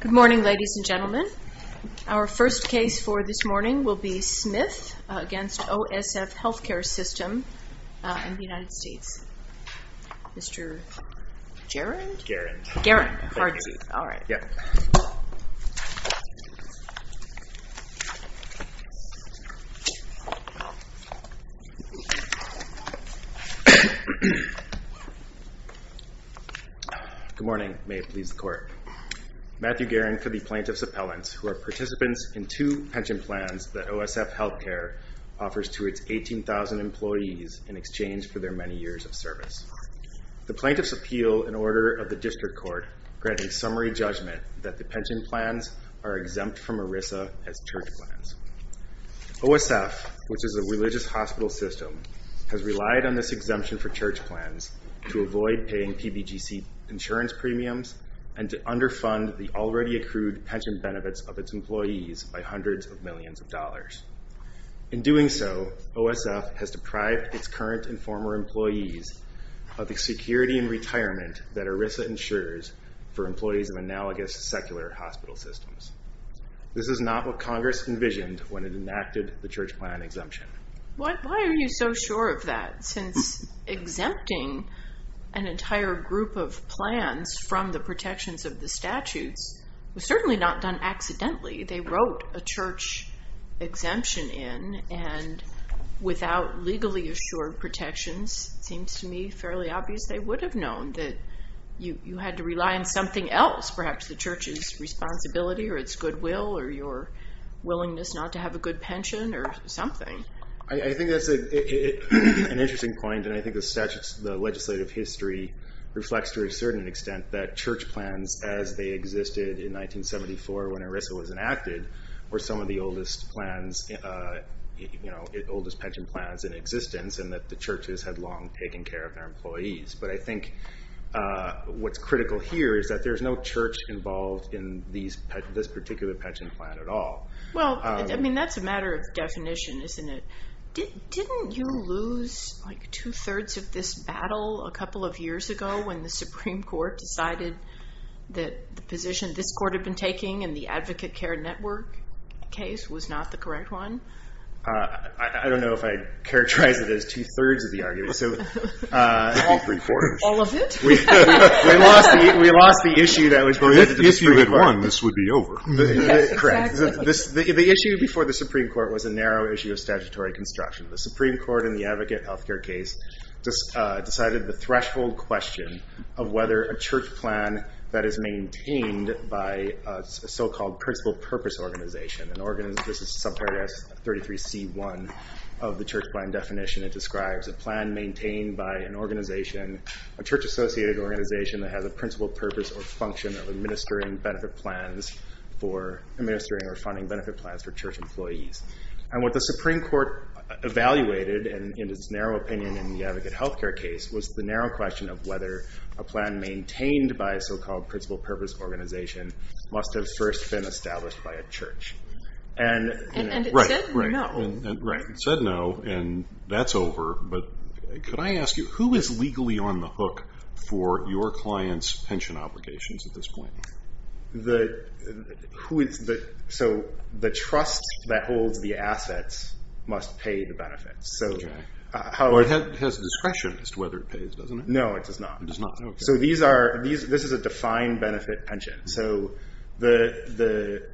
Good morning, ladies and gentlemen. Our first case for this morning will be Smith v. OSF Healthcare System in the United States. Mr. Gerrand? Gerrand. Gerrand. All right. Yeah. Good morning. May it please the Court. Matthew Gerrand for the Plaintiff's Appellants, who are participants in two pension plans that OSF Healthcare offers to its 18,000 employees in exchange for their many years of service. The plaintiffs appeal an order of the District Court granting summary judgment that the pension plans are exempt from ERISA as church plans. OSF, which is a religious hospital system, has relied on this exemption for church plans to avoid paying PBGC insurance premiums and to underfund the already accrued pension benefits of its employees by hundreds of millions of dollars. In doing so, OSF has deprived its current and former employees of the security and retirement that ERISA ensures for employees of analogous secular hospital systems. This is not what Congress envisioned when it enacted the church plan exemption. Why are you so sure of that, since exempting an entire group of plans from the protections of the statutes was certainly not done accidentally? They wrote a church exemption in, and without legally assured protections, it seems to me fairly obvious they would have known that you had to rely on something else, perhaps the church's responsibility or its goodwill or your willingness not to have a good pension or something. I think that's an interesting point, and I think the legislative history reflects to a certain extent that church plans, as they existed in 1974 when ERISA was enacted, were some of the oldest pension plans in existence and that the churches had long taken care of their employees. But I think what's critical here is that there's no church involved in this particular pension plan at all. Well, I mean, that's a matter of definition, isn't it? Didn't you lose like two-thirds of this battle a couple of years ago when the Supreme Court decided that the position this court had been taking in the Advocate Care Network case was not the correct one? I don't know if I'd characterize it as two-thirds of the argument. All three-quarters. All of it? We lost the issue that was related to the Supreme Court. If you had won, this would be over. Yes, exactly. The issue before the Supreme Court was a narrow issue of statutory construction. The Supreme Court in the Advocate Health Care case decided the threshold question of whether a church plan that is maintained by a so-called principal purpose organization, this is subparagraph 33C1 of the church plan definition, it describes a plan maintained by an organization, a church-associated organization that has a principal purpose or function of administering benefit plans for, administering or funding benefit plans for church employees. And what the Supreme Court evaluated in its narrow opinion in the Advocate Health Care case was the narrow question of whether a plan maintained by a so-called principal purpose organization must have first been established by a church. And it said no. Right, it said no, and that's over. But could I ask you, who is legally on the hook for your client's pension obligations at this point? So the trust that holds the assets must pay the benefits. Okay. It has discretion as to whether it pays, doesn't it? No, it does not. It does not, okay. So this is a defined benefit pension. So the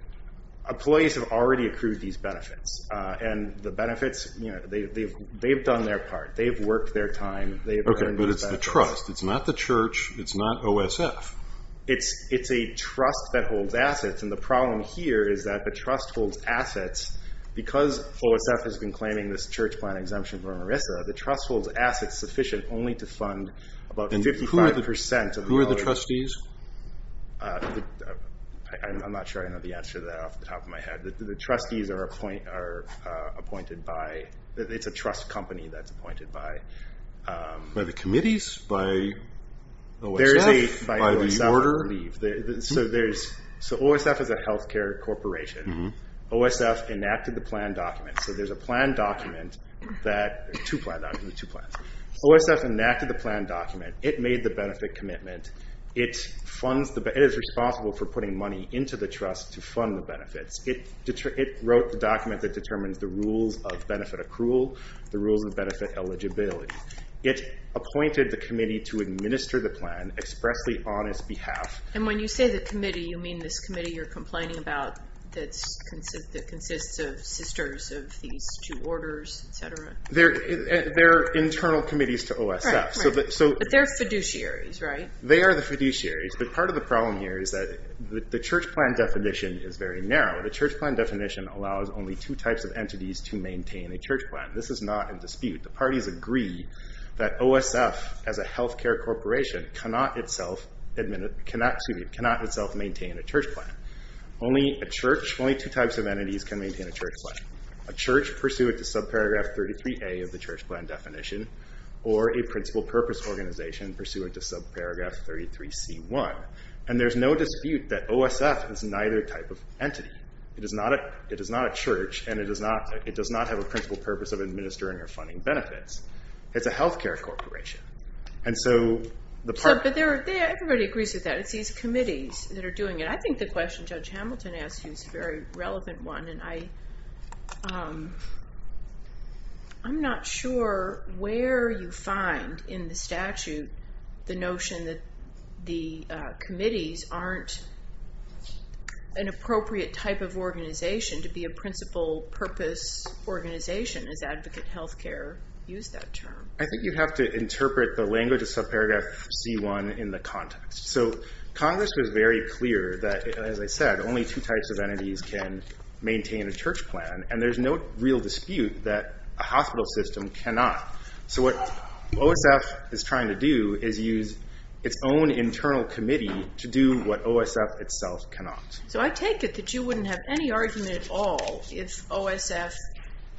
employees have already accrued these benefits, and the benefits, they've done their part. They've worked their time. Okay, but it's the trust. It's not the church. It's not OSF. It's a trust that holds assets, and the problem here is that the trust holds assets. Because OSF has been claiming this church plan exemption for Marissa, the trust holds assets sufficient only to fund about 55% of the value. And who are the trustees? I'm not sure I know the answer to that off the top of my head. The trustees are appointed by the trust company that's appointed by. By the committees? By OSF? By the order? So OSF is a health care corporation. OSF enacted the plan document. So there's a plan document that OSF enacted the plan document. It made the benefit commitment. It is responsible for putting money into the trust to fund the benefits. It wrote the document that determines the rules of benefit accrual, the rules of benefit eligibility. It appointed the committee to administer the plan expressly on its behalf. And when you say the committee, you mean this committee you're complaining about that consists of sisters of these two orders, et cetera? They're internal committees to OSF. But they're fiduciaries, right? They are the fiduciaries. But part of the problem here is that the church plan definition is very narrow. The church plan definition allows only two types of entities to maintain a church plan. This is not in dispute. The parties agree that OSF, as a health care corporation, cannot itself maintain a church plan. Only a church, only two types of entities can maintain a church plan, a church pursuant to subparagraph 33A of the church plan definition or a principal purpose organization pursuant to subparagraph 33C1. And there's no dispute that OSF is neither type of entity. It is not a church. And it does not have a principal purpose of administering or funding benefits. It's a health care corporation. And so the part- But everybody agrees with that. It's these committees that are doing it. I think the question Judge Hamilton asked you is a very relevant one. And I'm not sure where you find in the statute the notion that the committees aren't an appropriate type of organization to be a principal purpose organization, as advocate health care use that term. I think you have to interpret the language of subparagraph C1 in the context. So Congress was very clear that, as I said, only two types of entities can maintain a church plan. And there's no real dispute that a hospital system cannot. So what OSF is trying to do is use its own internal committee to do what OSF itself cannot. So I take it that you wouldn't have any argument at all if OSF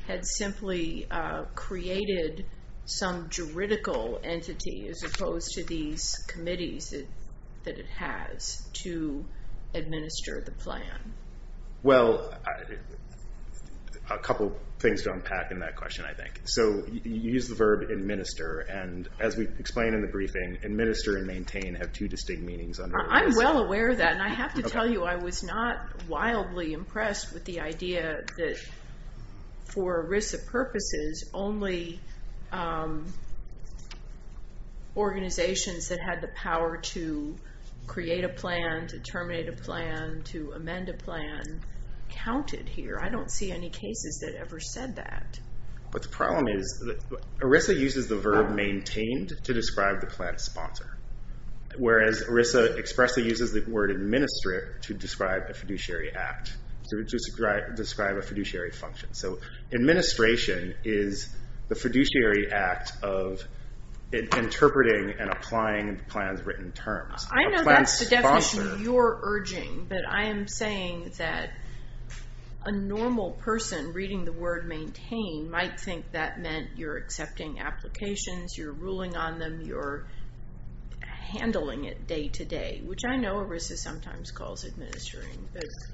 had simply created some juridical entity as opposed to these committees that it has to administer the plan. Well, a couple things to unpack in that question, I think. So you use the verb administer. And as we explain in the briefing, administer and maintain have two distinct meanings under OSF. I'm well aware of that. And I have to tell you I was not wildly impressed with the idea that, for risks of purposes, only organizations that had the power to create a plan, to terminate a plan, to amend a plan, counted here. I don't see any cases that ever said that. But the problem is that ERISA uses the verb maintained to describe the plan sponsor, whereas ERISA expressly uses the word administer to describe a fiduciary act, to describe a fiduciary function. So administration is the fiduciary act of interpreting and applying the plan's written terms. I know that's the definition you're urging, but I am saying that a normal person reading the word maintain might think that meant you're accepting applications, you're ruling on them, you're handling it day-to-day, which I know ERISA sometimes calls administering.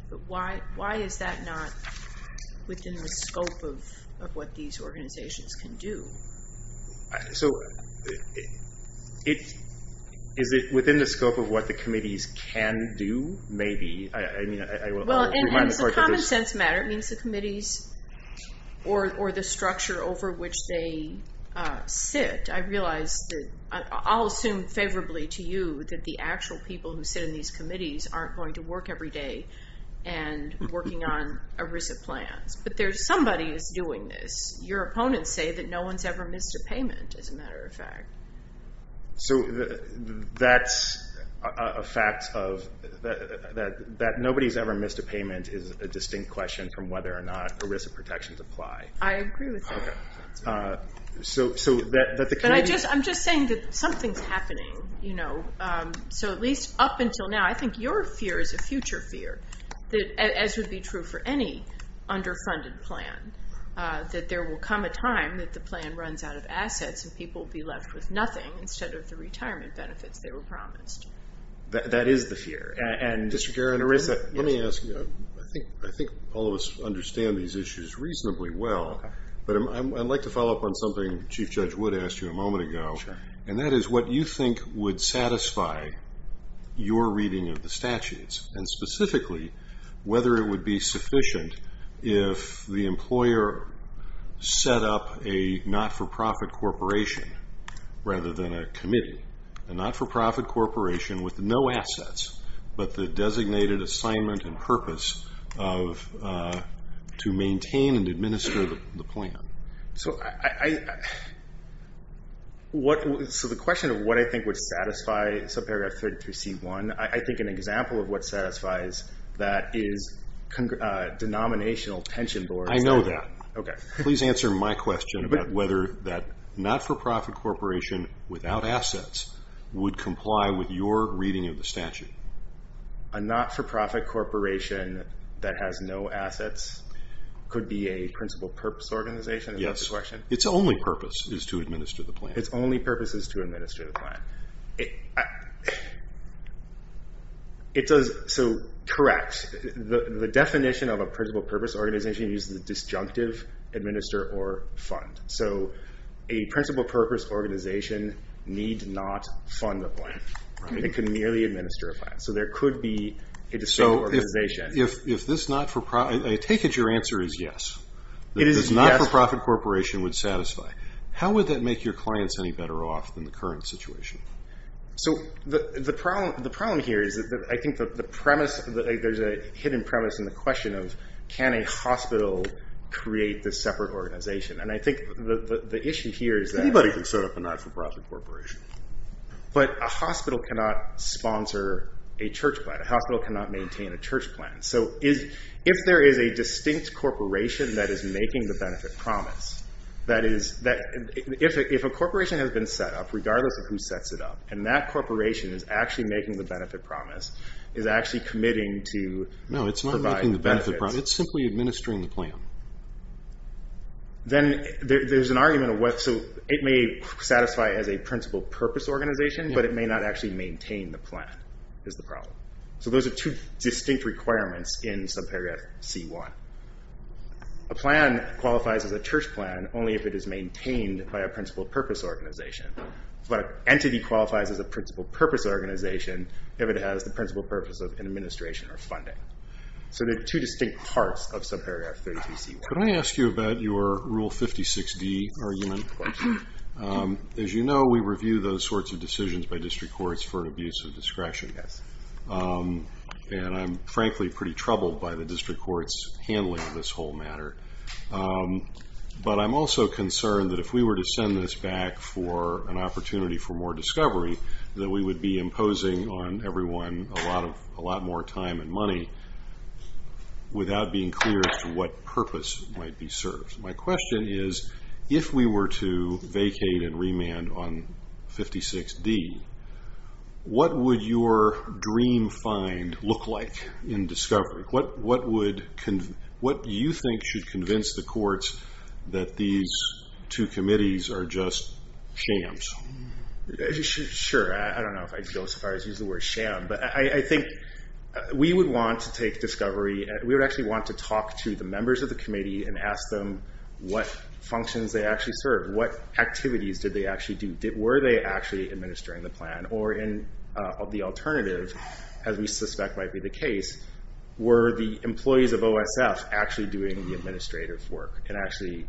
But why is that not within the scope of what these organizations can do? So is it within the scope of what the committees can do? Maybe. Well, in a common sense matter, it means the committees or the structure over which they sit. I realize that I'll assume favorably to you that the actual people who sit in these committees aren't going to work every day and working on ERISA plans. But there's somebody who's doing this. Your opponents say that no one's ever missed a payment, as a matter of fact. So that's a fact that nobody's ever missed a payment is a distinct question from whether or not ERISA protections apply. I agree with that. I'm just saying that something's happening. So at least up until now, I think your fear is a future fear, as would be true for any underfunded plan, that there will come a time that the plan runs out of assets and people will be left with nothing instead of the retirement benefits they were promised. That is the fear. District Attorney, let me ask you. I think all of us understand these issues reasonably well. But I'd like to follow up on something Chief Judge Wood asked you a moment ago, and specifically whether it would be sufficient if the employer set up a not-for-profit corporation rather than a committee, a not-for-profit corporation with no assets but the designated assignment and purpose to maintain and administer the plan. So the question of what I think would satisfy subparagraph 33C1, I think an example of what satisfies that is denominational pension boards. I know that. Okay. Please answer my question about whether that not-for-profit corporation without assets would comply with your reading of the statute. A not-for-profit corporation that has no assets could be a principal purpose organization? Yes. It's only purpose is to administer the plan. It's only purpose is to administer the plan. Correct. The definition of a principal purpose organization uses the disjunctive administer or fund. So a principal purpose organization need not fund the plan. It can merely administer a plan. So there could be a disjunctive organization. I take it your answer is yes. It is yes. The not-for-profit corporation would satisfy. How would that make your clients any better off than the current situation? So the problem here is that I think the premise, there's a hidden premise in the question of can a hospital create this separate organization. And I think the issue here is that. Anybody can set up a not-for-profit corporation. But a hospital cannot sponsor a church plan. A hospital cannot maintain a church plan. So if there is a distinct corporation that is making the benefit promise, that is, if a corporation has been set up, regardless of who sets it up, and that corporation is actually making the benefit promise, is actually committing to provide benefits. No, it's not making the benefit promise. It's simply administering the plan. Then there's an argument of what, so it may satisfy as a principal purpose organization, but it may not actually maintain the plan is the problem. So those are two distinct requirements in subparagraph C1. A plan qualifies as a church plan only if it is maintained by a principal purpose organization. But an entity qualifies as a principal purpose organization if it has the principal purpose of an administration or funding. So there are two distinct parts of subparagraph 32C1. Can I ask you about your Rule 56D argument? Of course. As you know, we review those sorts of decisions by district courts for abuse of discretion. Yes. And I'm, frankly, pretty troubled by the district court's handling of this whole matter. But I'm also concerned that if we were to send this back for an opportunity for more discovery, that we would be imposing on everyone a lot more time and money without being clear as to what purpose might be served. My question is, if we were to vacate and remand on 56D, what would your dream find look like in discovery? What do you think should convince the courts that these two committees are just shams? Sure. I don't know if I'd go so far as to use the word sham. But I think we would want to take discovery. We would actually want to talk to the members of the committee and ask them what functions they actually serve. What activities did they actually do? Were they actually administering the plan? Or the alternative, as we suspect might be the case, were the employees of OSF actually doing the administrative work and actually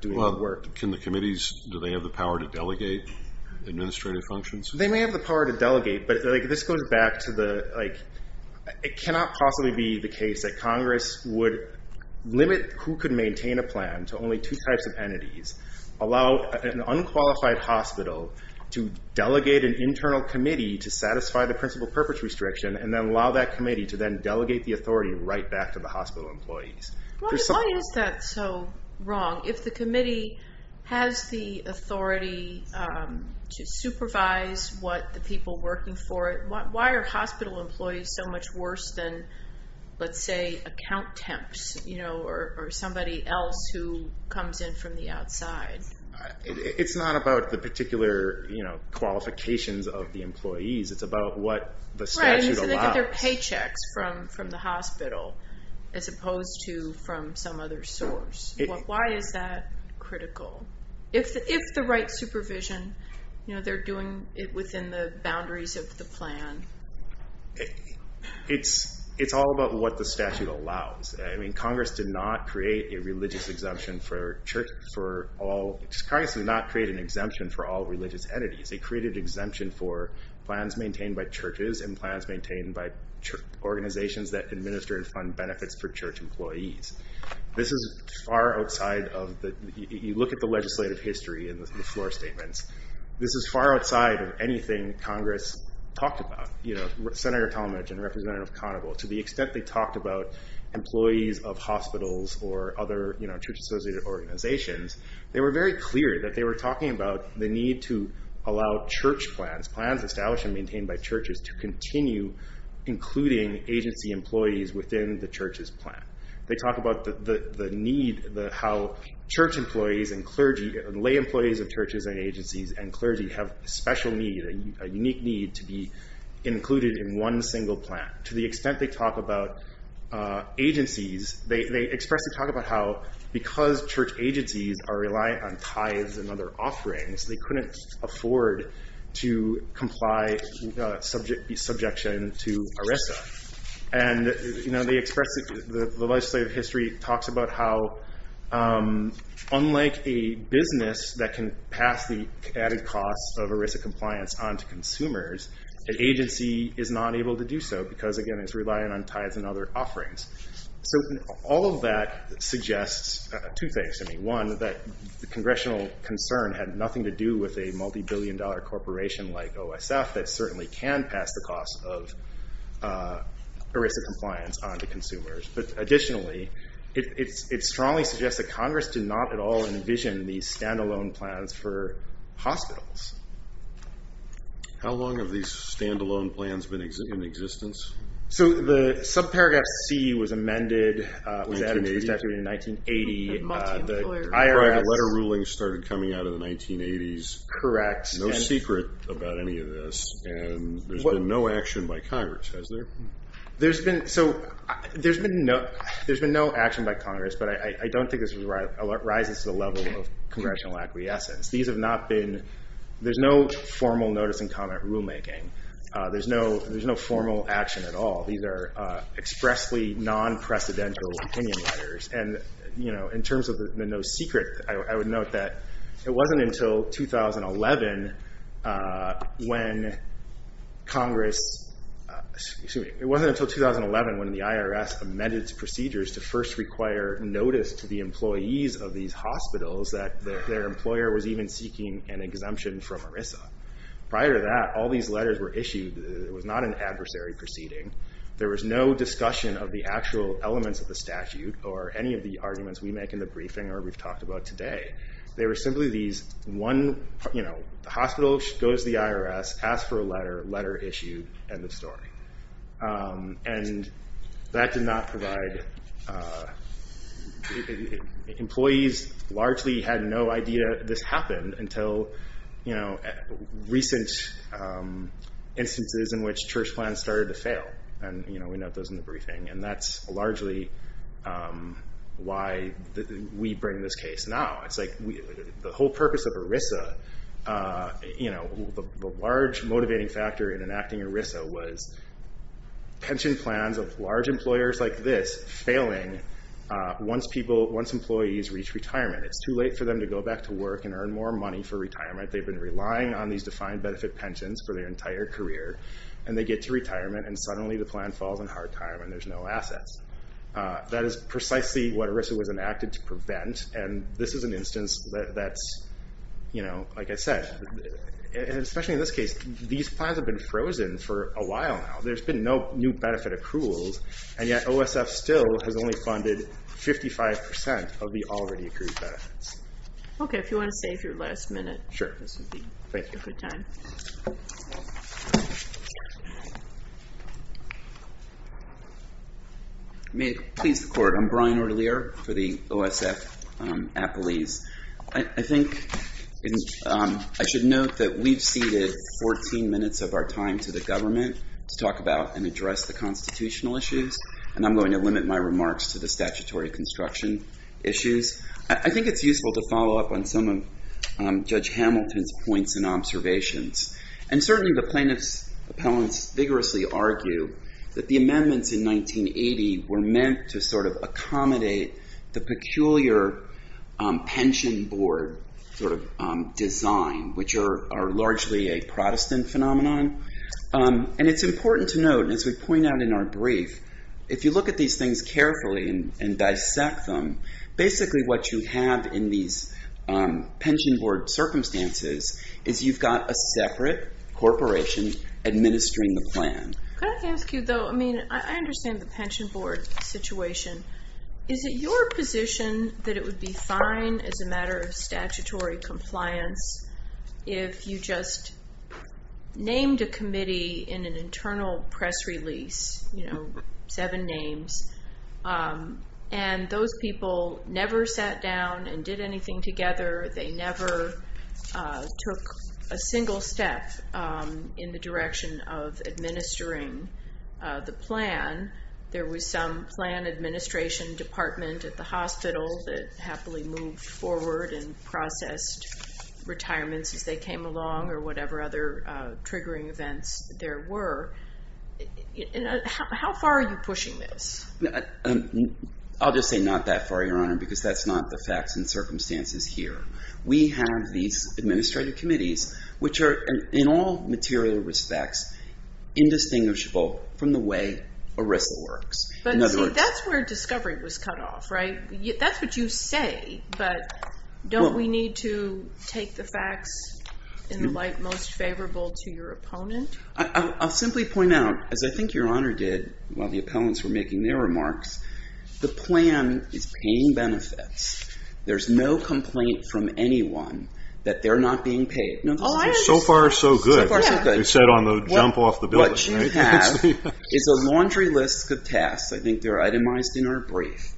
doing the work? Can the committees, do they have the power to delegate administrative functions? They may have the power to delegate, but this goes back to the, like, it cannot possibly be the case that Congress would limit who could maintain a plan to only two types of entities, allow an unqualified hospital to delegate an internal committee to satisfy the principal purpose restriction, and then allow that committee to then delegate the authority right back to the hospital employees. Why is that so wrong? If the committee has the authority to supervise what the people working for it, why are hospital employees so much worse than, let's say, account temps, or somebody else who comes in from the outside? It's not about the particular qualifications of the employees. It's about what the statute allows. Right, so they get their paychecks from the hospital as opposed to from some other source. Why is that critical? If the right supervision, they're doing it within the boundaries of the plan. It's all about what the statute allows. I mean, Congress did not create a religious exemption for church for all. Congress did not create an exemption for all religious entities. They created an exemption for plans maintained by churches and plans maintained by organizations that administer and fund benefits for church employees. This is far outside of the, you look at the legislative history and the floor statements. This is far outside of anything Congress talked about. Senator Talmadge and Representative Conoval, to the extent they talked about employees of hospitals or other church-associated organizations, they were very clear that they were talking about the need to allow church plans, plans established and maintained by churches, to continue including agency employees within the church's plan. They talk about the need, how church employees and clergy, lay employees of churches and agencies and clergy have a special need, a unique need to be included in one single plan. To the extent they talk about agencies, they expressly talk about how because church agencies are reliant on tithes and other offerings, they couldn't afford to comply subjection to ERISA. And they expressly, the legislative history talks about how unlike a business that can pass the added costs of ERISA compliance on to consumers, an agency is not able to do so because, again, it's reliant on tithes and other offerings. So all of that suggests two things. One, that the congressional concern had nothing to do with a multi-billion dollar corporation like OSF that certainly can pass the costs of ERISA compliance on to consumers. But additionally, it strongly suggests that Congress did not at all envision these stand-alone plans for hospitals. How long have these stand-alone plans been in existence? So the subparagraph C was amended, was added to the statute in 1980. The private letter ruling started coming out in the 1980s. Correct. No secret about any of this. And there's been no action by Congress, has there? There's been no action by Congress, but I don't think this rises to the level of congressional acquiescence. There's no formal notice and comment rulemaking. There's no formal action at all. These are expressly non-precedential opinion letters. And in terms of the no secret, I would note that it wasn't until 2011 when Congress, excuse me, it wasn't until 2011 when the IRS amended its procedures to first require notice to the employees of these hospitals that their employer was even seeking an exemption from ERISA. Prior to that, all these letters were issued. It was not an adversary proceeding. There was no discussion of the actual elements of the statute or any of the arguments we make in the briefing or we've talked about today. They were simply these one, you know, the hospital goes to the IRS, asks for a letter, letter issued, end of story. And that did not provide, employees largely had no idea this happened until, you know, recent instances in which church plans started to fail. And, you know, we note those in the briefing. And that's largely why we bring this case now. It's like the whole purpose of ERISA, you know, the large motivating factor in enacting ERISA was pension plans of large employers like this failing once people, once employees reach retirement. It's too late for them to go back to work and earn more money for retirement. They've been relying on these defined benefit pensions for their entire career. And they get to retirement and suddenly the plan falls on hard time and there's no assets. That is precisely what ERISA was enacted to prevent. And this is an instance that's, you know, like I said, especially in this case, these plans have been frozen for a while now. There's been no new benefit accruals. And yet OSF still has only funded 55% of the already accrued benefits. Okay. If you want to save your last minute. Sure. This would be a great time. May it please the court. I'm Brian Ortelier for the OSF Appalese. I think I should note that we've ceded 14 minutes of our time to the government to talk about and address the constitutional issues. And I'm going to limit my remarks to the statutory construction issues. I think it's useful to follow up on some of Judge Hamilton's points and observations. And certainly the plaintiff's appellants vigorously argue that the amendments in 1980 were meant to sort of accommodate the peculiar pension board sort of design, which are largely a Protestant phenomenon. And it's important to note, as we point out in our brief, if you look at these things carefully and dissect them, basically what you have in these pension board circumstances is you've got a separate corporation administering the plan. Could I ask you though, I mean, I understand the pension board situation. Is it your position that it would be fine as a matter of statutory compliance if you just named a committee in an internal press release, seven names, and those people never sat down and did anything together? They never took a single step in the direction of administering the plan. There was some plan administration department at the hospital that happily moved forward and processed retirements as they came along or whatever other triggering events there were. How far are you pushing this? I'll just say not that far, Your Honor, because that's not the facts and circumstances here. We have these administrative committees, which are in all material respects indistinguishable from the way ERISA works. But see, that's where discovery was cut off, right? That's what you say, but don't we need to take the facts in the light most favorable to your opponent? I'll simply point out, as I think Your Honor did while the appellants were making their remarks, the plan is paying benefits. There's no complaint from anyone that they're not being paid. So far, so good. You said on the jump off the building. What you have is a laundry list of tasks. I think they're itemized in our brief.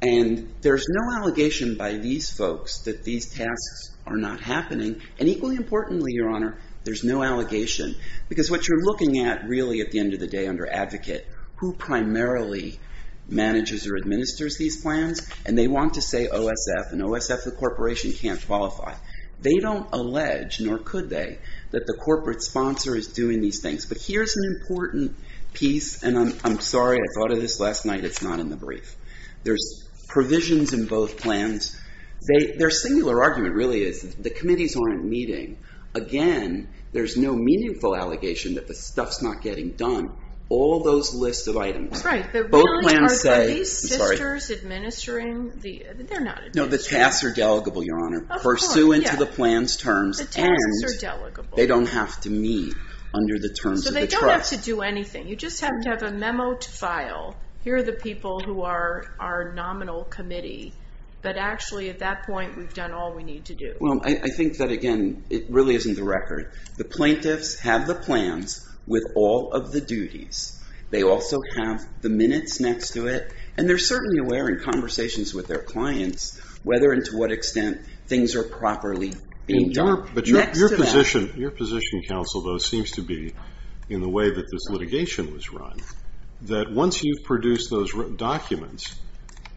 And there's no allegation by these folks that these tasks are not happening. And equally importantly, Your Honor, there's no allegation. Because what you're looking at really at the end of the day under advocate, who primarily manages or administers these plans, and they want to say OSF. And OSF, the corporation, can't qualify. They don't allege, nor could they, that the corporate sponsor is doing these things. But here's an important piece. And I'm sorry. I thought of this last night. It's not in the brief. There's provisions in both plans. Their singular argument really is that the committees aren't meeting. Again, there's no meaningful allegation that the stuff's not getting done. All those lists of items. Right. Are these sisters administering? They're not administering. No, the tasks are delegable, Your Honor, pursuant to the plan's terms. The tasks are delegable. And they don't have to meet under the terms of the trust. So they don't have to do anything. You just have to have a memo to file. Here are the people who are our nominal committee. But actually, at that point, we've done all we need to do. Well, I think that, again, it really isn't the record. The plaintiffs have the plans with all of the duties. They also have the minutes next to it. And they're certainly aware in conversations with their clients whether and to what extent things are properly being done. Your position, counsel, though, seems to be, in the way that this litigation was run, that once you've produced those documents,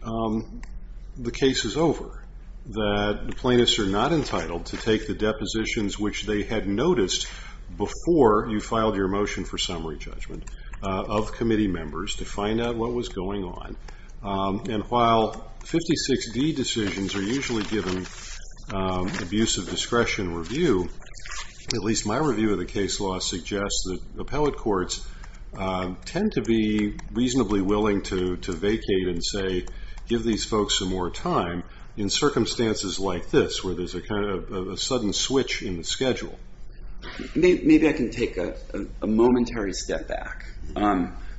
the case is over. That the plaintiffs are not entitled to take the depositions, which they had noticed before you filed your motion for summary judgment, of committee members to find out what was going on. And while 56D decisions are usually given abusive discretion review, at least my review of the case law suggests that appellate courts tend to be reasonably willing to vacate and, say, give these folks some more time in circumstances like this, where there's a sudden switch in the schedule. Maybe I can take a momentary step back.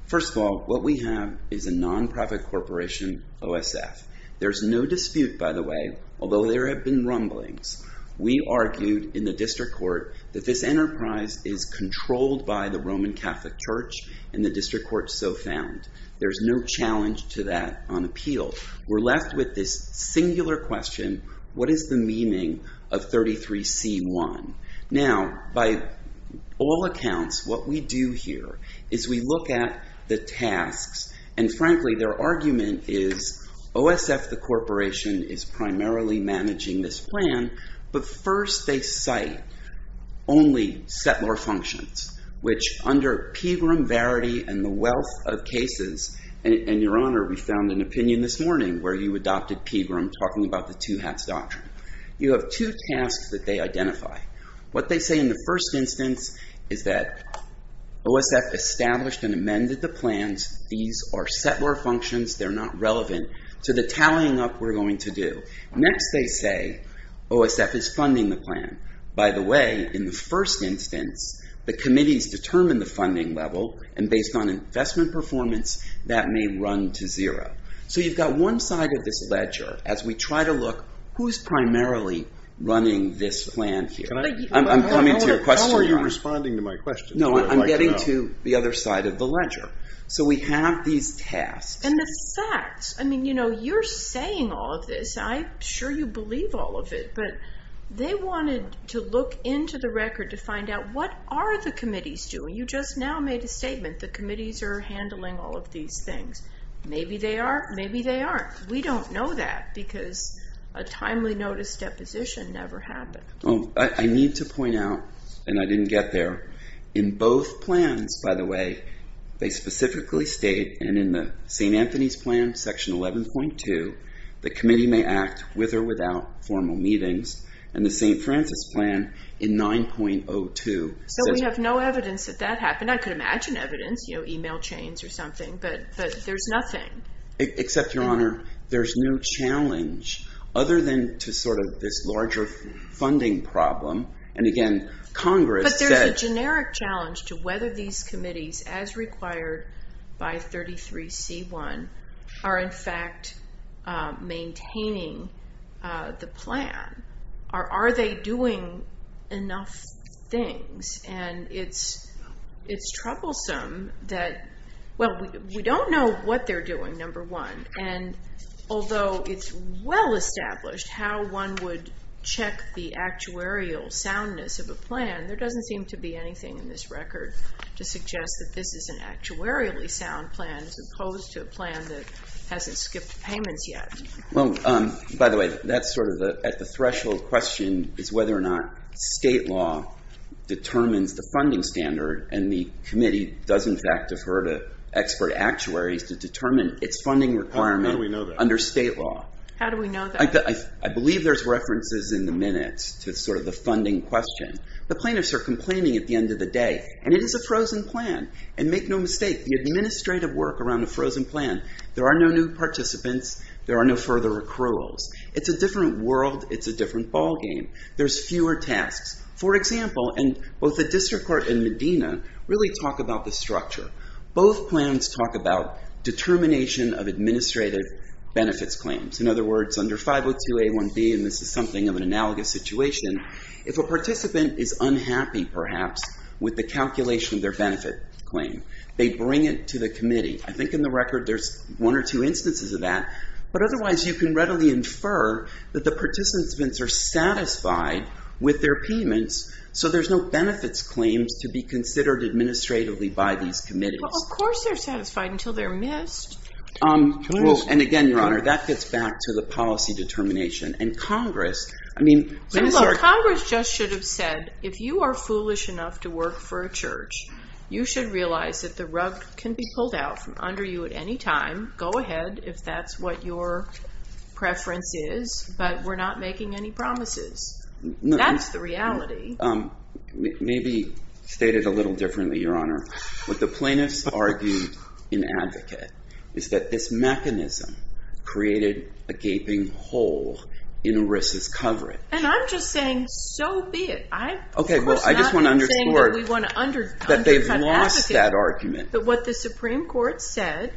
First of all, what we have is a nonprofit corporation, OSF. There's no dispute, by the way, although there have been rumblings. We argued in the district court that this enterprise is controlled by the Roman Catholic Church, and the district court so found. There's no challenge to that on appeal. We're left with this singular question, what is the meaning of 33C1? Now, by all accounts, what we do here is we look at the tasks, and frankly, their argument is OSF, the corporation, is primarily managing this plan. But first, they cite only settler functions, which under Pegram, Verity, and the wealth of cases, and your honor, we found an opinion this morning where you adopted Pegram talking about the two hats doctrine. You have two tasks that they identify. What they say in the first instance is that OSF established and amended the plans. These are settler functions. They're not relevant to the tallying up we're going to do. Next, they say OSF is funding the plan. By the way, in the first instance, the committees determine the funding level, and based on investment performance, that may run to zero. So you've got one side of this ledger as we try to look who's primarily running this plan here. I'm coming to your question, your honor. How are you responding to my question? No, I'm getting to the other side of the ledger. So we have these tasks. And the facts. I mean, you know, you're saying all of this. I'm sure you believe all of it, but they wanted to look into the record to find out what are the committees doing. You just now made a statement. The committees are handling all of these things. Maybe they are, maybe they aren't. We don't know that because a timely notice deposition never happened. I need to point out, and I didn't get there, in both plans, by the way, they specifically state, and in the St. Anthony's plan, section 11.2, the committee may act with or without formal meetings, and the St. Francis plan in 9.02. So we have no evidence that that happened. I could imagine evidence, you know, email chains or something, but there's nothing. Except, Your Honor, there's no challenge, other than to sort of this larger funding problem. And, again, Congress said. But there's a generic challenge to whether these committees, as required by 33C1, are, in fact, maintaining the plan. Are they doing enough things? And it's troublesome that, well, we don't know what they're doing, number one. And although it's well established how one would check the actuarial soundness of a plan, there doesn't seem to be anything in this record to suggest that this is an actuarially sound plan as opposed to a plan that hasn't skipped payments yet. Well, by the way, that's sort of at the threshold question, is whether or not state law determines the funding standard, and the committee does, in fact, defer to expert actuaries to determine its funding requirement under state law. How do we know that? I believe there's references in the minutes to sort of the funding question. The plaintiffs are complaining at the end of the day, and it is a frozen plan. And make no mistake, the administrative work around a frozen plan, there are no new participants, there are no further accruals. It's a different world. It's a different ball game. There's fewer tasks. For example, both the district court and Medina really talk about the structure. Both plans talk about determination of administrative benefits claims. In other words, under 502A1B, and this is something of an analogous situation, if a participant is unhappy, perhaps, with the calculation of their benefit claim, they bring it to the committee. I think in the record there's one or two instances of that. But otherwise, you can readily infer that the participants are satisfied with their payments, so there's no benefits claims to be considered administratively by these committees. Well, of course they're satisfied until they're missed. And again, Your Honor, that gets back to the policy determination. And Congress, I mean, this is our- Congress just should have said, if you are foolish enough to work for a church, you should realize that the rug can be pulled out from under you at any time. Go ahead if that's what your preference is, but we're not making any promises. That's the reality. Maybe state it a little differently, Your Honor. What the plaintiffs argued in Advocate is that this mechanism created a gaping hole in ERISA's coverage. And I'm just saying so be it. Okay, well, I just want to underscore that they've lost that argument. But what the Supreme Court said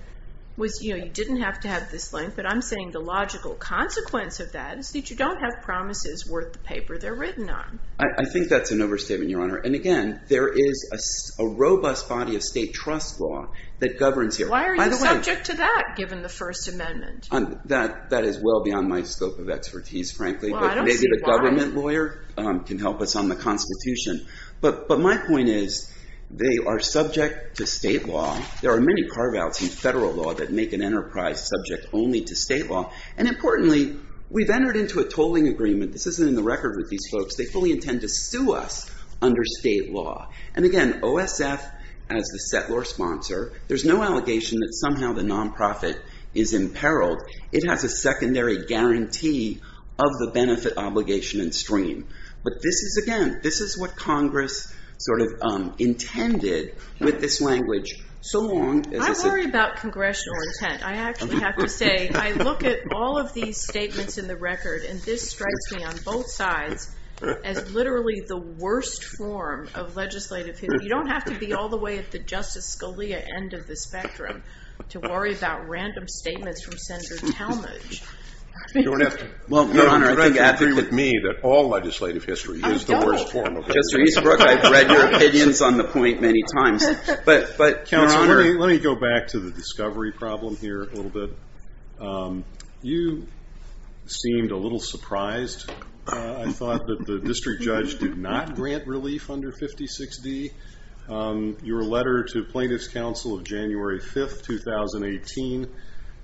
was, you know, you didn't have to have this link, but I'm saying the logical consequence of that is that you don't have promises worth the paper they're written on. I think that's an overstatement, Your Honor. And again, there is a robust body of state trust law that governs here. Why are you subject to that, given the First Amendment? That is well beyond my scope of expertise, frankly. Well, I don't see why. Maybe the government lawyer can help us on the Constitution. But my point is, they are subject to state law. There are many carve-outs in federal law that make an enterprise subject only to state law. And importantly, we've entered into a tolling agreement. This isn't in the record with these folks. They fully intend to sue us under state law. And again, OSF, as the settlor sponsor, there's no allegation that somehow the nonprofit is imperiled. It has a secondary guarantee of the benefit obligation and stream. But this is, again, this is what Congress sort of intended with this language so long. I worry about congressional intent. I actually have to say, I look at all of these statements in the record, and this strikes me on both sides as literally the worst form of legislative history. You don't have to be all the way at the Justice Scalia end of the spectrum to worry about random statements from Senator Talmadge. Your Honor, I think it's me that all legislative history is the worst form of it. Justice Eastbrook, I've read your opinions on the point many times. Let me go back to the discovery problem here a little bit. You seemed a little surprised. I thought that the district judge did not grant relief under 56D. Your letter to plaintiff's counsel of January 5, 2018,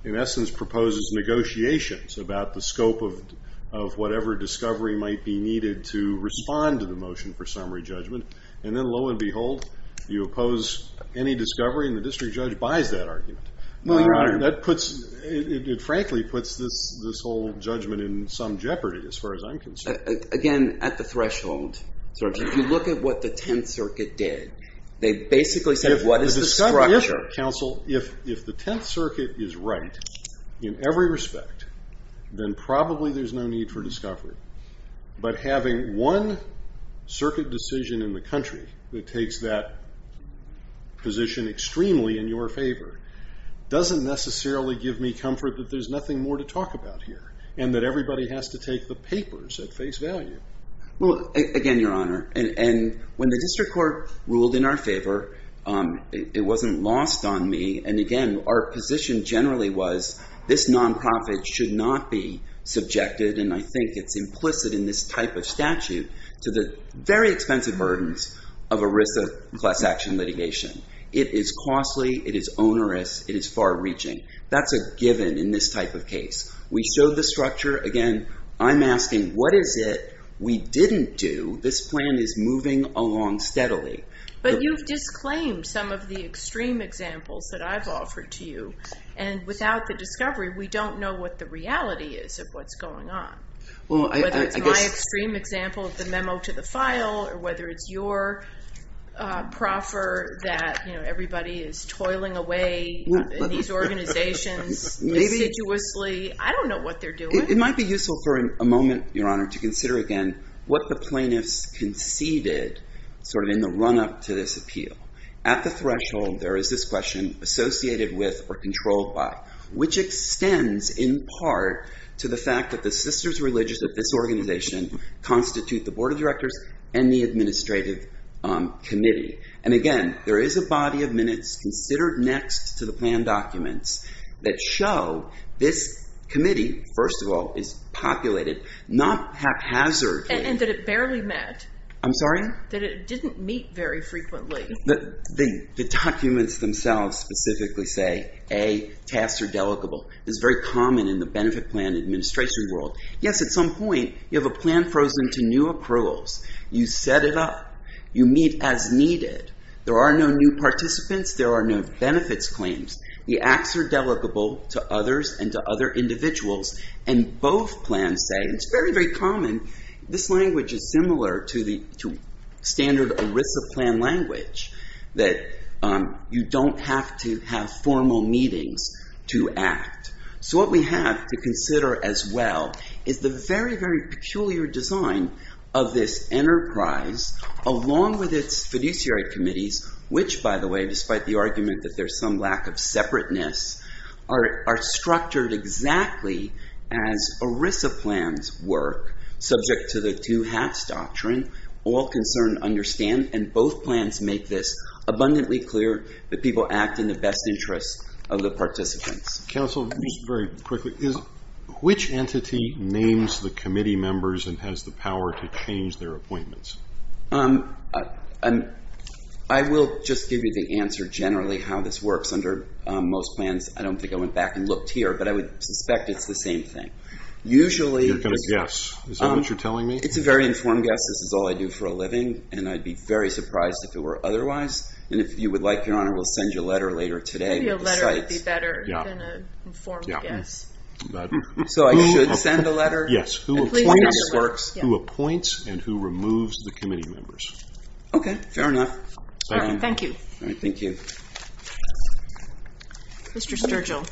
in essence, proposes negotiations about the scope of whatever discovery might be needed to respond to the motion for summary judgment. And then, lo and behold, you oppose any discovery, and the district judge buys that argument. No, Your Honor. It frankly puts this whole judgment in some jeopardy as far as I'm concerned. Again, at the threshold. If you look at what the Tenth Circuit did, they basically said what is the structure? Counsel, if the Tenth Circuit is right in every respect, then probably there's no need for discovery. But having one circuit decision in the country that takes that position extremely in your favor doesn't necessarily give me comfort that there's nothing more to talk about here and that everybody has to take the papers at face value. Well, again, Your Honor, and when the district court ruled in our favor, it wasn't lost on me. And again, our position generally was this nonprofit should not be subjected, and I think it's implicit in this type of statute, to the very expensive burdens of a risk of class action litigation. It is costly. It is onerous. It is far-reaching. That's a given in this type of case. We showed the structure. Again, I'm asking what is it we didn't do? This plan is moving along steadily. But you've disclaimed some of the extreme examples that I've offered to you. And without the discovery, we don't know what the reality is of what's going on. Whether it's my extreme example of the memo to the file or whether it's your proffer that everybody is toiling away in these organizations assiduously. I don't know what they're doing. It might be useful for a moment, Your Honor, to consider again what the plaintiffs conceded sort of in the run-up to this appeal. At the threshold, there is this question associated with or controlled by, which extends in part to the fact that the sisters religious of this organization constitute the board of directors and the administrative committee. And again, there is a body of minutes considered next to the plan documents that show this committee, first of all, is populated not haphazardly. And that it barely met. I'm sorry? That it didn't meet very frequently. The documents themselves specifically say, A, tasks are delicable. It's very common in the benefit plan administration world. Yes, at some point, you have a plan frozen to new approvals. You set it up. You meet as needed. There are no new participants. There are no benefits claims. The acts are delicable to others and to other individuals. And both plans say, it's very, very common. This language is similar to the standard ERISA plan language that you don't have to have formal meetings to act. So what we have to consider as well is the very, very peculiar design of this enterprise, along with its fiduciary committees, which, by the way, despite the argument that there's some lack of separateness, are structured exactly as ERISA plans work, subject to the two hats doctrine. All concerned understand, and both plans make this abundantly clear, that people act in the best interest of the participants. Counsel, just very quickly, which entity names the committee members and has the power to change their appointments? I will just give you the answer generally how this works. Under most plans, I don't think I went back and looked here, but I would suspect it's the same thing. You're going to guess. Is that what you're telling me? It's a very informed guess. This is all I do for a living, and I'd be very surprised if it were otherwise. And if you would like, Your Honor, we'll send you a letter later today. Maybe a letter would be better than an informed guess. So I should send a letter? Yes. Who appoints and who removes the committee members. Okay. Fair enough. Thank you. All right. Thank you. Mr. Sturgill.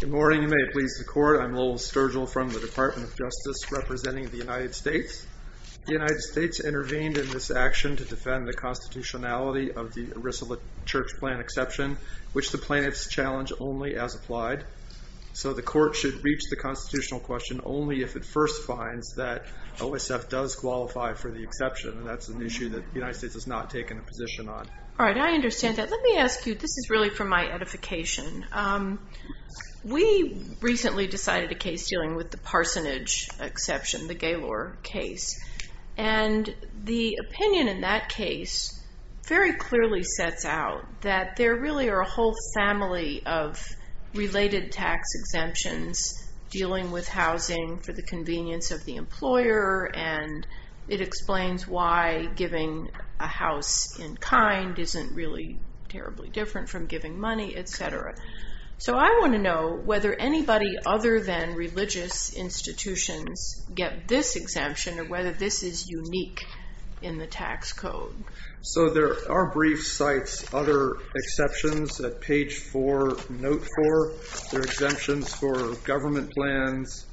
Good morning. You may please record. I'm Lowell Sturgill from the Department of Justice representing the United States. The United States intervened in this action to defend the constitutionality of the Arisola Church Plan exception, which the plaintiffs challenge only as applied. So the court should reach the constitutional question only if it first finds that OSF does qualify for the exception, and that's an issue that the United States has not taken a position on. All right. I understand that. Let me ask you. This is really for my edification. We recently decided a case dealing with the Parsonage exception, the Gaylor case, and the opinion in that case very clearly sets out that there really are a whole family of related tax exemptions dealing with housing for the convenience of the employer, and it explains why giving a house in kind isn't really terribly different from giving money, etc. So I want to know whether anybody other than religious institutions get this exemption or whether this is unique in the tax code. So there are brief sites, other exceptions at page 4, note 4. There are exemptions for government plans,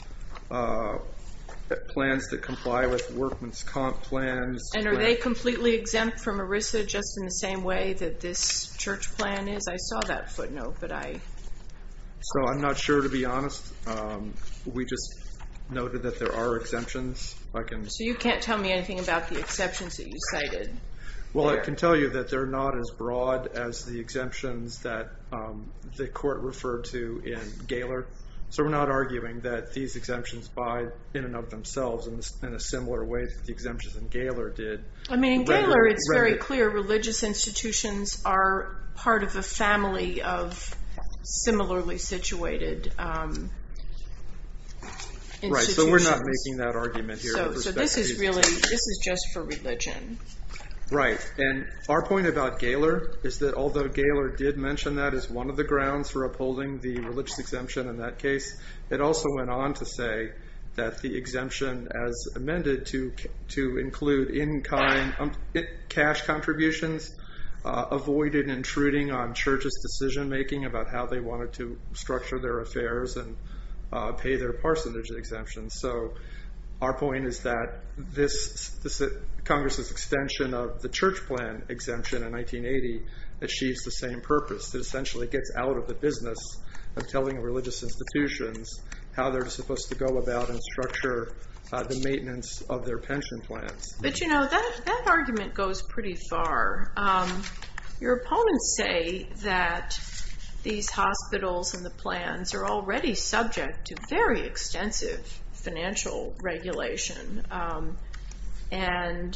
plans that comply with workman's comp plans. And are they completely exempt from ERISA just in the same way that this church plan is? I saw that footnote, but I... So I'm not sure, to be honest. We just noted that there are exemptions. So you can't tell me anything about the exceptions that you cited? Well, I can tell you that they're not as broad as the exemptions that the court referred to in Gaylor. So we're not arguing that these exemptions by in and of themselves in a similar way that the exemptions in Gaylor did. I mean, in Gaylor, it's very clear religious institutions are part of a family of similarly situated institutions. Right, so we're not making that argument here with respect to... So this is really, this is just for religion. Right, and our point about Gaylor is that although Gaylor did mention that as one of the grounds for upholding the religious exemption in that case, it also went on to say that the exemption as amended to include in-kind cash contributions avoided intruding on church's decision-making about how they wanted to structure their affairs and pay their parsonage exemptions. So our point is that this, Congress's extension of the church plan exemption in 1980 achieves the same purpose. It essentially gets out of the business of telling religious institutions how they're supposed to go about and structure the maintenance of their pension plans. But you know, that argument goes pretty far. Your opponents say that these hospitals and the plans are already subject to very extensive financial regulation. And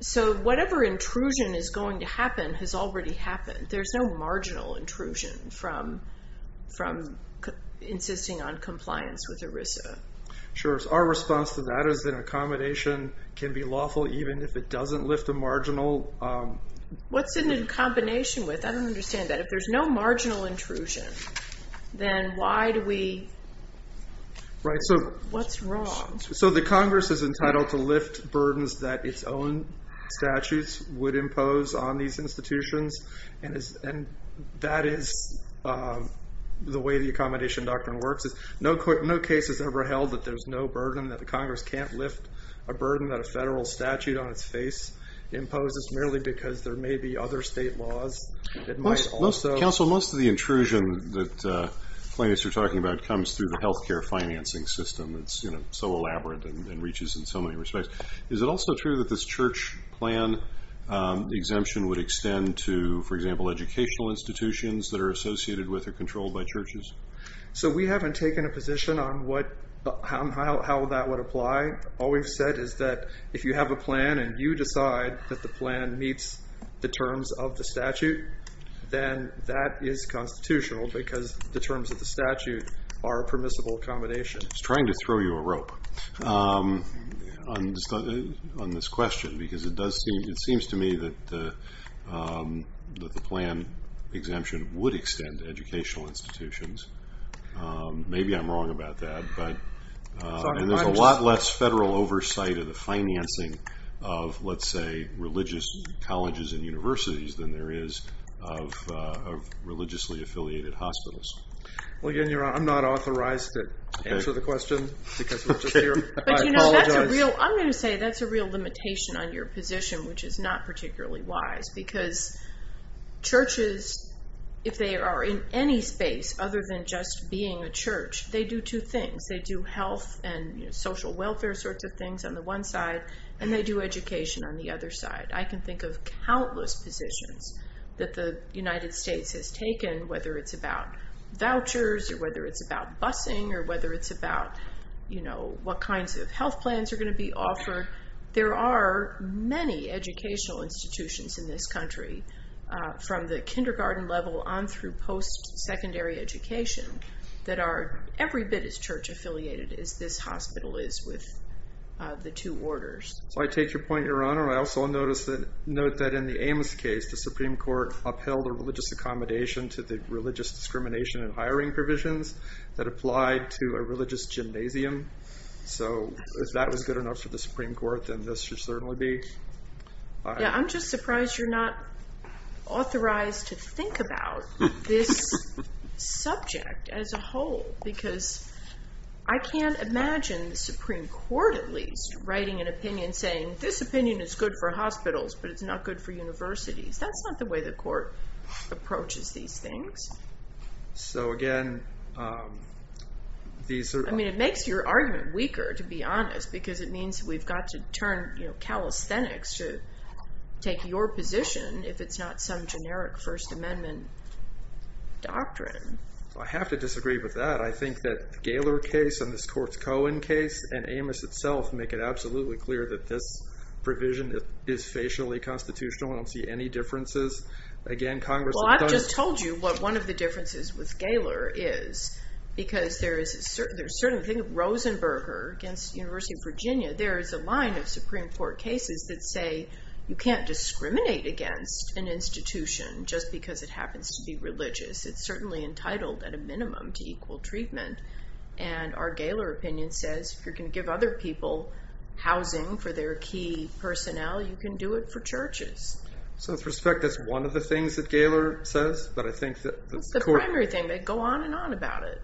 so whatever intrusion is going to happen has already happened. There's no marginal intrusion from insisting on compliance with ERISA. Sure, our response to that is that accommodation can be lawful even if it doesn't lift a marginal... What's in a combination with? I don't understand that. If there's no marginal intrusion, then why do we... Right, so... What's wrong? So the Congress is entitled to lift burdens that its own statutes would impose on these institutions. And that is the way the accommodation doctrine works. No case has ever held that there's no burden, that the Congress can't lift a burden that a federal statute on its face imposes merely because there may be other state laws that might also... Counsel, most of the intrusion that plaintiffs are talking about comes through the health care financing system. It's so elaborate and reaches in so many respects. Is it also true that this church plan exemption would extend to, for example, educational institutions that are associated with or controlled by churches? So we haven't taken a position on how that would apply. All we've said is that if you have a plan and you decide that the plan meets the terms of the statute, then that is constitutional because the terms of the statute are a permissible accommodation. I was trying to throw you a rope on this question because it seems to me that the plan exemption would extend to educational institutions. Maybe I'm wrong about that. And there's a lot less federal oversight of the financing of, let's say, religious colleges and universities than there is of religiously affiliated hospitals. I'm not authorized to answer the question because we're just here. I apologize. I'm going to say that's a real limitation on your position, which is not particularly wise because churches, if they are in any space other than just being a church, they do two things. They do health and social welfare sorts of things on the one side, and they do education on the other side. I can think of countless positions that the United States has taken, whether it's about vouchers or whether it's about busing or whether it's about what kinds of health plans are going to be offered. There are many educational institutions in this country, from the kindergarten level on through post-secondary education, that are every bit as church-affiliated as this hospital is with the two orders. So I take your point, Your Honor. I also note that in the Amos case, the Supreme Court upheld a religious accommodation to the religious discrimination in hiring provisions that applied to a religious gymnasium. So if that was good enough for the Supreme Court, then this should certainly be. I'm just surprised you're not authorized to think about this subject as a whole because I can't imagine the Supreme Court, at least, writing an opinion saying this opinion is good for hospitals, but it's not good for universities. That's not the way the court approaches these things. So again, these are... I mean, it makes your argument weaker, to be honest, because it means we've got to turn calisthenics to take your position if it's not some generic First Amendment doctrine. I have to disagree with that. I think that the Gaylor case and this Courts Cohen case and Amos itself make it absolutely clear that this provision is facially constitutional. I don't see any differences. Again, Congress has done... Well, I've just told you what one of the differences with Gaylor is because there is a certain thing. Think of Rosenberger against the University of Virginia. There is a line of Supreme Court cases that say you can't discriminate against an institution just because it happens to be religious. It's certainly entitled, at a minimum, to equal treatment. And our Gaylor opinion says if you're going to give other people housing for their key personnel, you can do it for churches. So with respect, that's one of the things that Gaylor says, but I think that... It's the primary thing. They go on and on about it.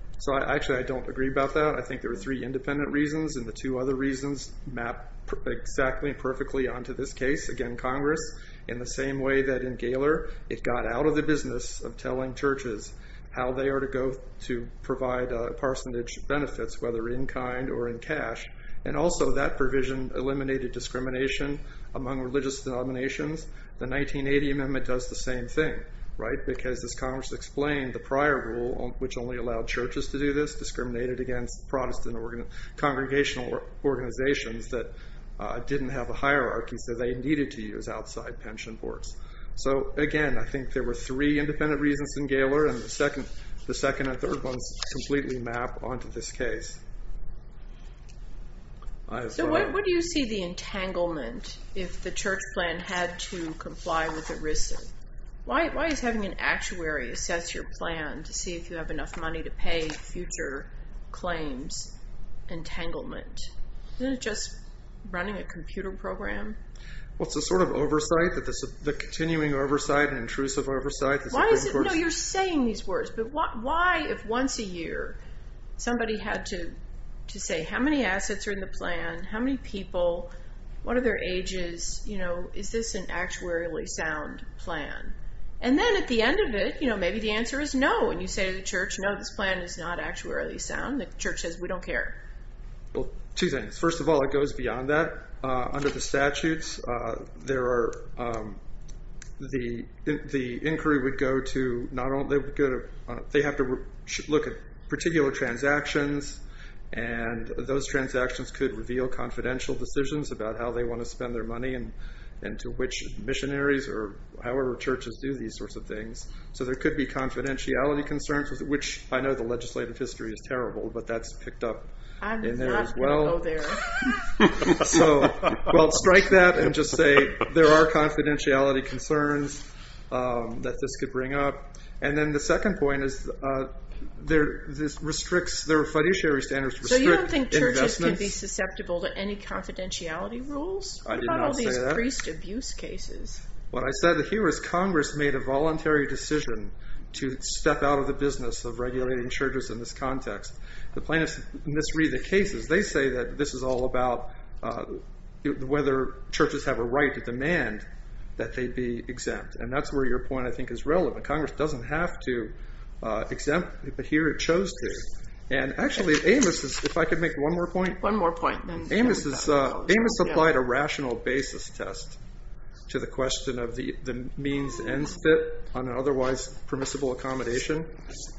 Actually, I don't agree about that. I think there are three independent reasons, and the two other reasons map exactly and perfectly onto this case. Again, Congress, in the same way that in Gaylor it got out of the business of telling churches how they are to go to provide a percentage of benefits, whether in-kind or in cash, and also that provision eliminated discrimination among religious denominations, the 1980 Amendment does the same thing, right? Because, as Congress explained, the prior rule, which only allowed churches to do this, discriminated against Protestant congregational organizations that didn't have a hierarchy, so they needed to use outside pension boards. So, again, I think there were three independent reasons in Gaylor, and the second and third ones completely map onto this case. So what do you see the entanglement if the church plan had to comply with ERISA? Why is having an actuary assess your plan to see if you have enough money to pay future claims entanglement? Isn't it just running a computer program? Well, it's a sort of oversight, the continuing oversight and intrusive oversight. No, you're saying these words, but why if once a year somebody had to say how many assets are in the plan, how many people, what are their ages, is this an actuarially sound plan? And then at the end of it, maybe the answer is no, and you say to the church, no, this plan is not actuarially sound. The church says, we don't care. Well, two things. First of all, it goes beyond that. Under the statutes, the inquiry would go to, they have to look at particular transactions, and those transactions could reveal confidential decisions about how they want to spend their money and to which missionaries or however churches do these sorts of things. So there could be confidentiality concerns, which I know the legislative history is terrible, but that's picked up in there as well. So we'll strike that and just say there are confidentiality concerns that this could bring up. And then the second point is this restricts, their fiduciary standards restrict investments. So you don't think churches can be susceptible to any confidentiality rules? I did not say that. Not all these priest abuse cases. What I said here is Congress made a voluntary decision to step out of the business of regulating churches in this context. The plaintiffs misread the cases. They say that this is all about whether churches have a right to demand that they be exempt, and that's where your point, I think, is relevant. Congress doesn't have to exempt, but here it chose to. And actually, Amos, if I could make one more point. One more point. Amos applied a rational basis test to the question of the means and spit on an otherwise permissible accommodation,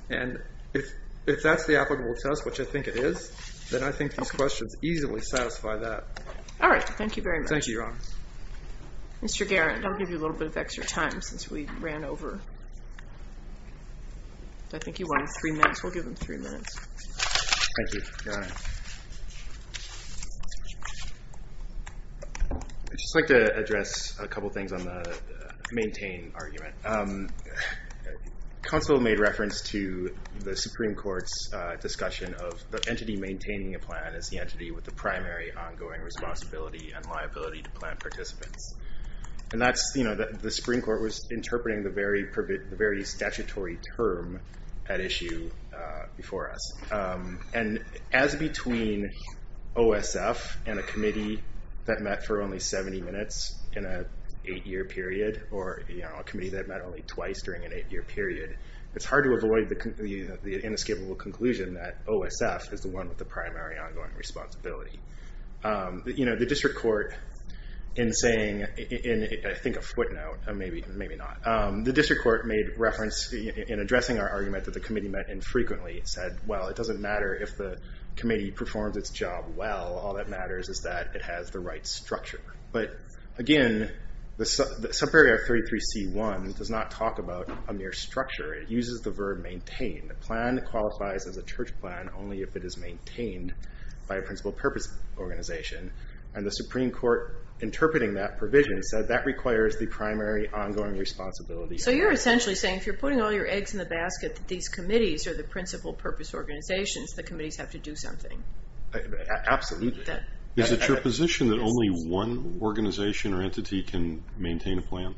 and if that's the applicable test, which I think it is, then I think these questions easily satisfy that. All right. Thank you very much. Thank you, Your Honor. Mr. Garrett, I'll give you a little bit of extra time since we ran over. I think you wanted three minutes. We'll give him three minutes. Thank you, Your Honor. I'd just like to address a couple things on the maintain argument. Counsel made reference to the Supreme Court's discussion of the entity maintaining a plan as the entity with the primary ongoing responsibility and liability to plan participants. And the Supreme Court was interpreting the very statutory term at issue before us. And as between OSF and a committee that met for only 70 minutes in an eight-year period or a committee that met only twice during an eight-year period, it's hard to avoid the inescapable conclusion that OSF is the one with the primary ongoing responsibility. The district court in saying, in I think a footnote, maybe not, the district court made reference in addressing our argument that the committee met infrequently said, well, it doesn't matter if the committee performs its job well. All that matters is that it has the right structure. But, again, the subarea 33C1 does not talk about a mere structure. It uses the verb maintain. The plan qualifies as a church plan only if it is maintained by a principal purpose organization. And the Supreme Court, interpreting that provision, said that requires the primary ongoing responsibility. So you're essentially saying if you're putting all your eggs in the basket that these committees are the principal purpose organizations, the committees have to do something. Absolutely. Is it your position that only one organization or entity can maintain a plan?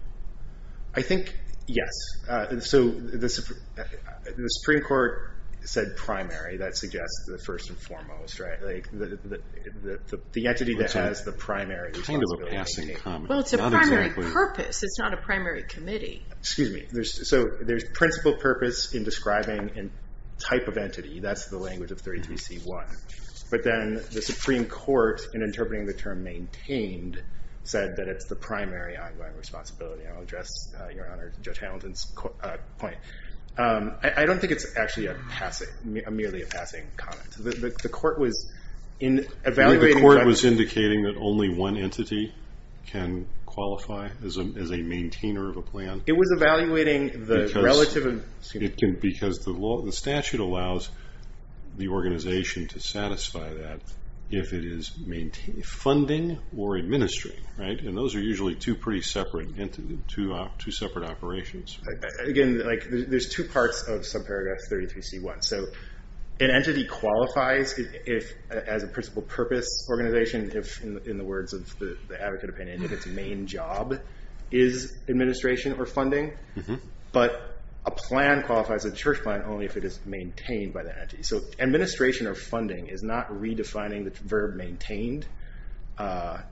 I think, yes. So the Supreme Court said primary. That suggests the first and foremost, right? The entity that has the primary responsibility. Well, it's a primary purpose. It's not a primary committee. Excuse me. So there's principal purpose in describing a type of entity. That's the language of 33C1. But then the Supreme Court, in interpreting the term maintained, said that it's the primary ongoing responsibility. I'll address Your Honor, Judge Hamilton's point. I don't think it's actually merely a passing comment. The court was evaluating. The court was indicating that only one entity can qualify as a maintainer of a plan. It was evaluating the relative. Because the statute allows the organization to satisfy that if it is funding or administering, right? And those are usually two pretty separate operations. Again, there's two parts of subparagraph 33C1. So an entity qualifies as a principal purpose organization, in the words of the advocate opinion, if its main job is administration or funding, but a plan qualifies as a church plan only if it is maintained by the entity. So administration or funding is not redefining the verb maintained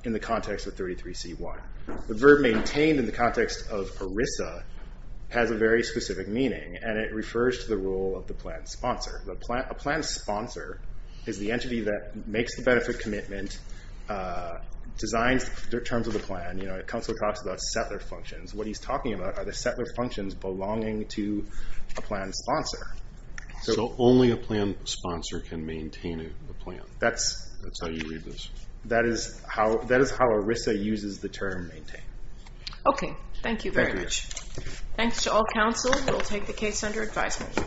in the context of 33C1. The verb maintained in the context of ERISA has a very specific meaning, and it refers to the role of the plan sponsor. A plan sponsor is the entity that makes the benefit commitment, designs the terms of the plan. Counsel talks about settler functions. What he's talking about are the settler functions belonging to a plan sponsor. So only a plan sponsor can maintain a plan. That's how you read this. That is how ERISA uses the term maintain. Okay. Thank you very much. Thanks to all counsel. We'll take the case under advisement.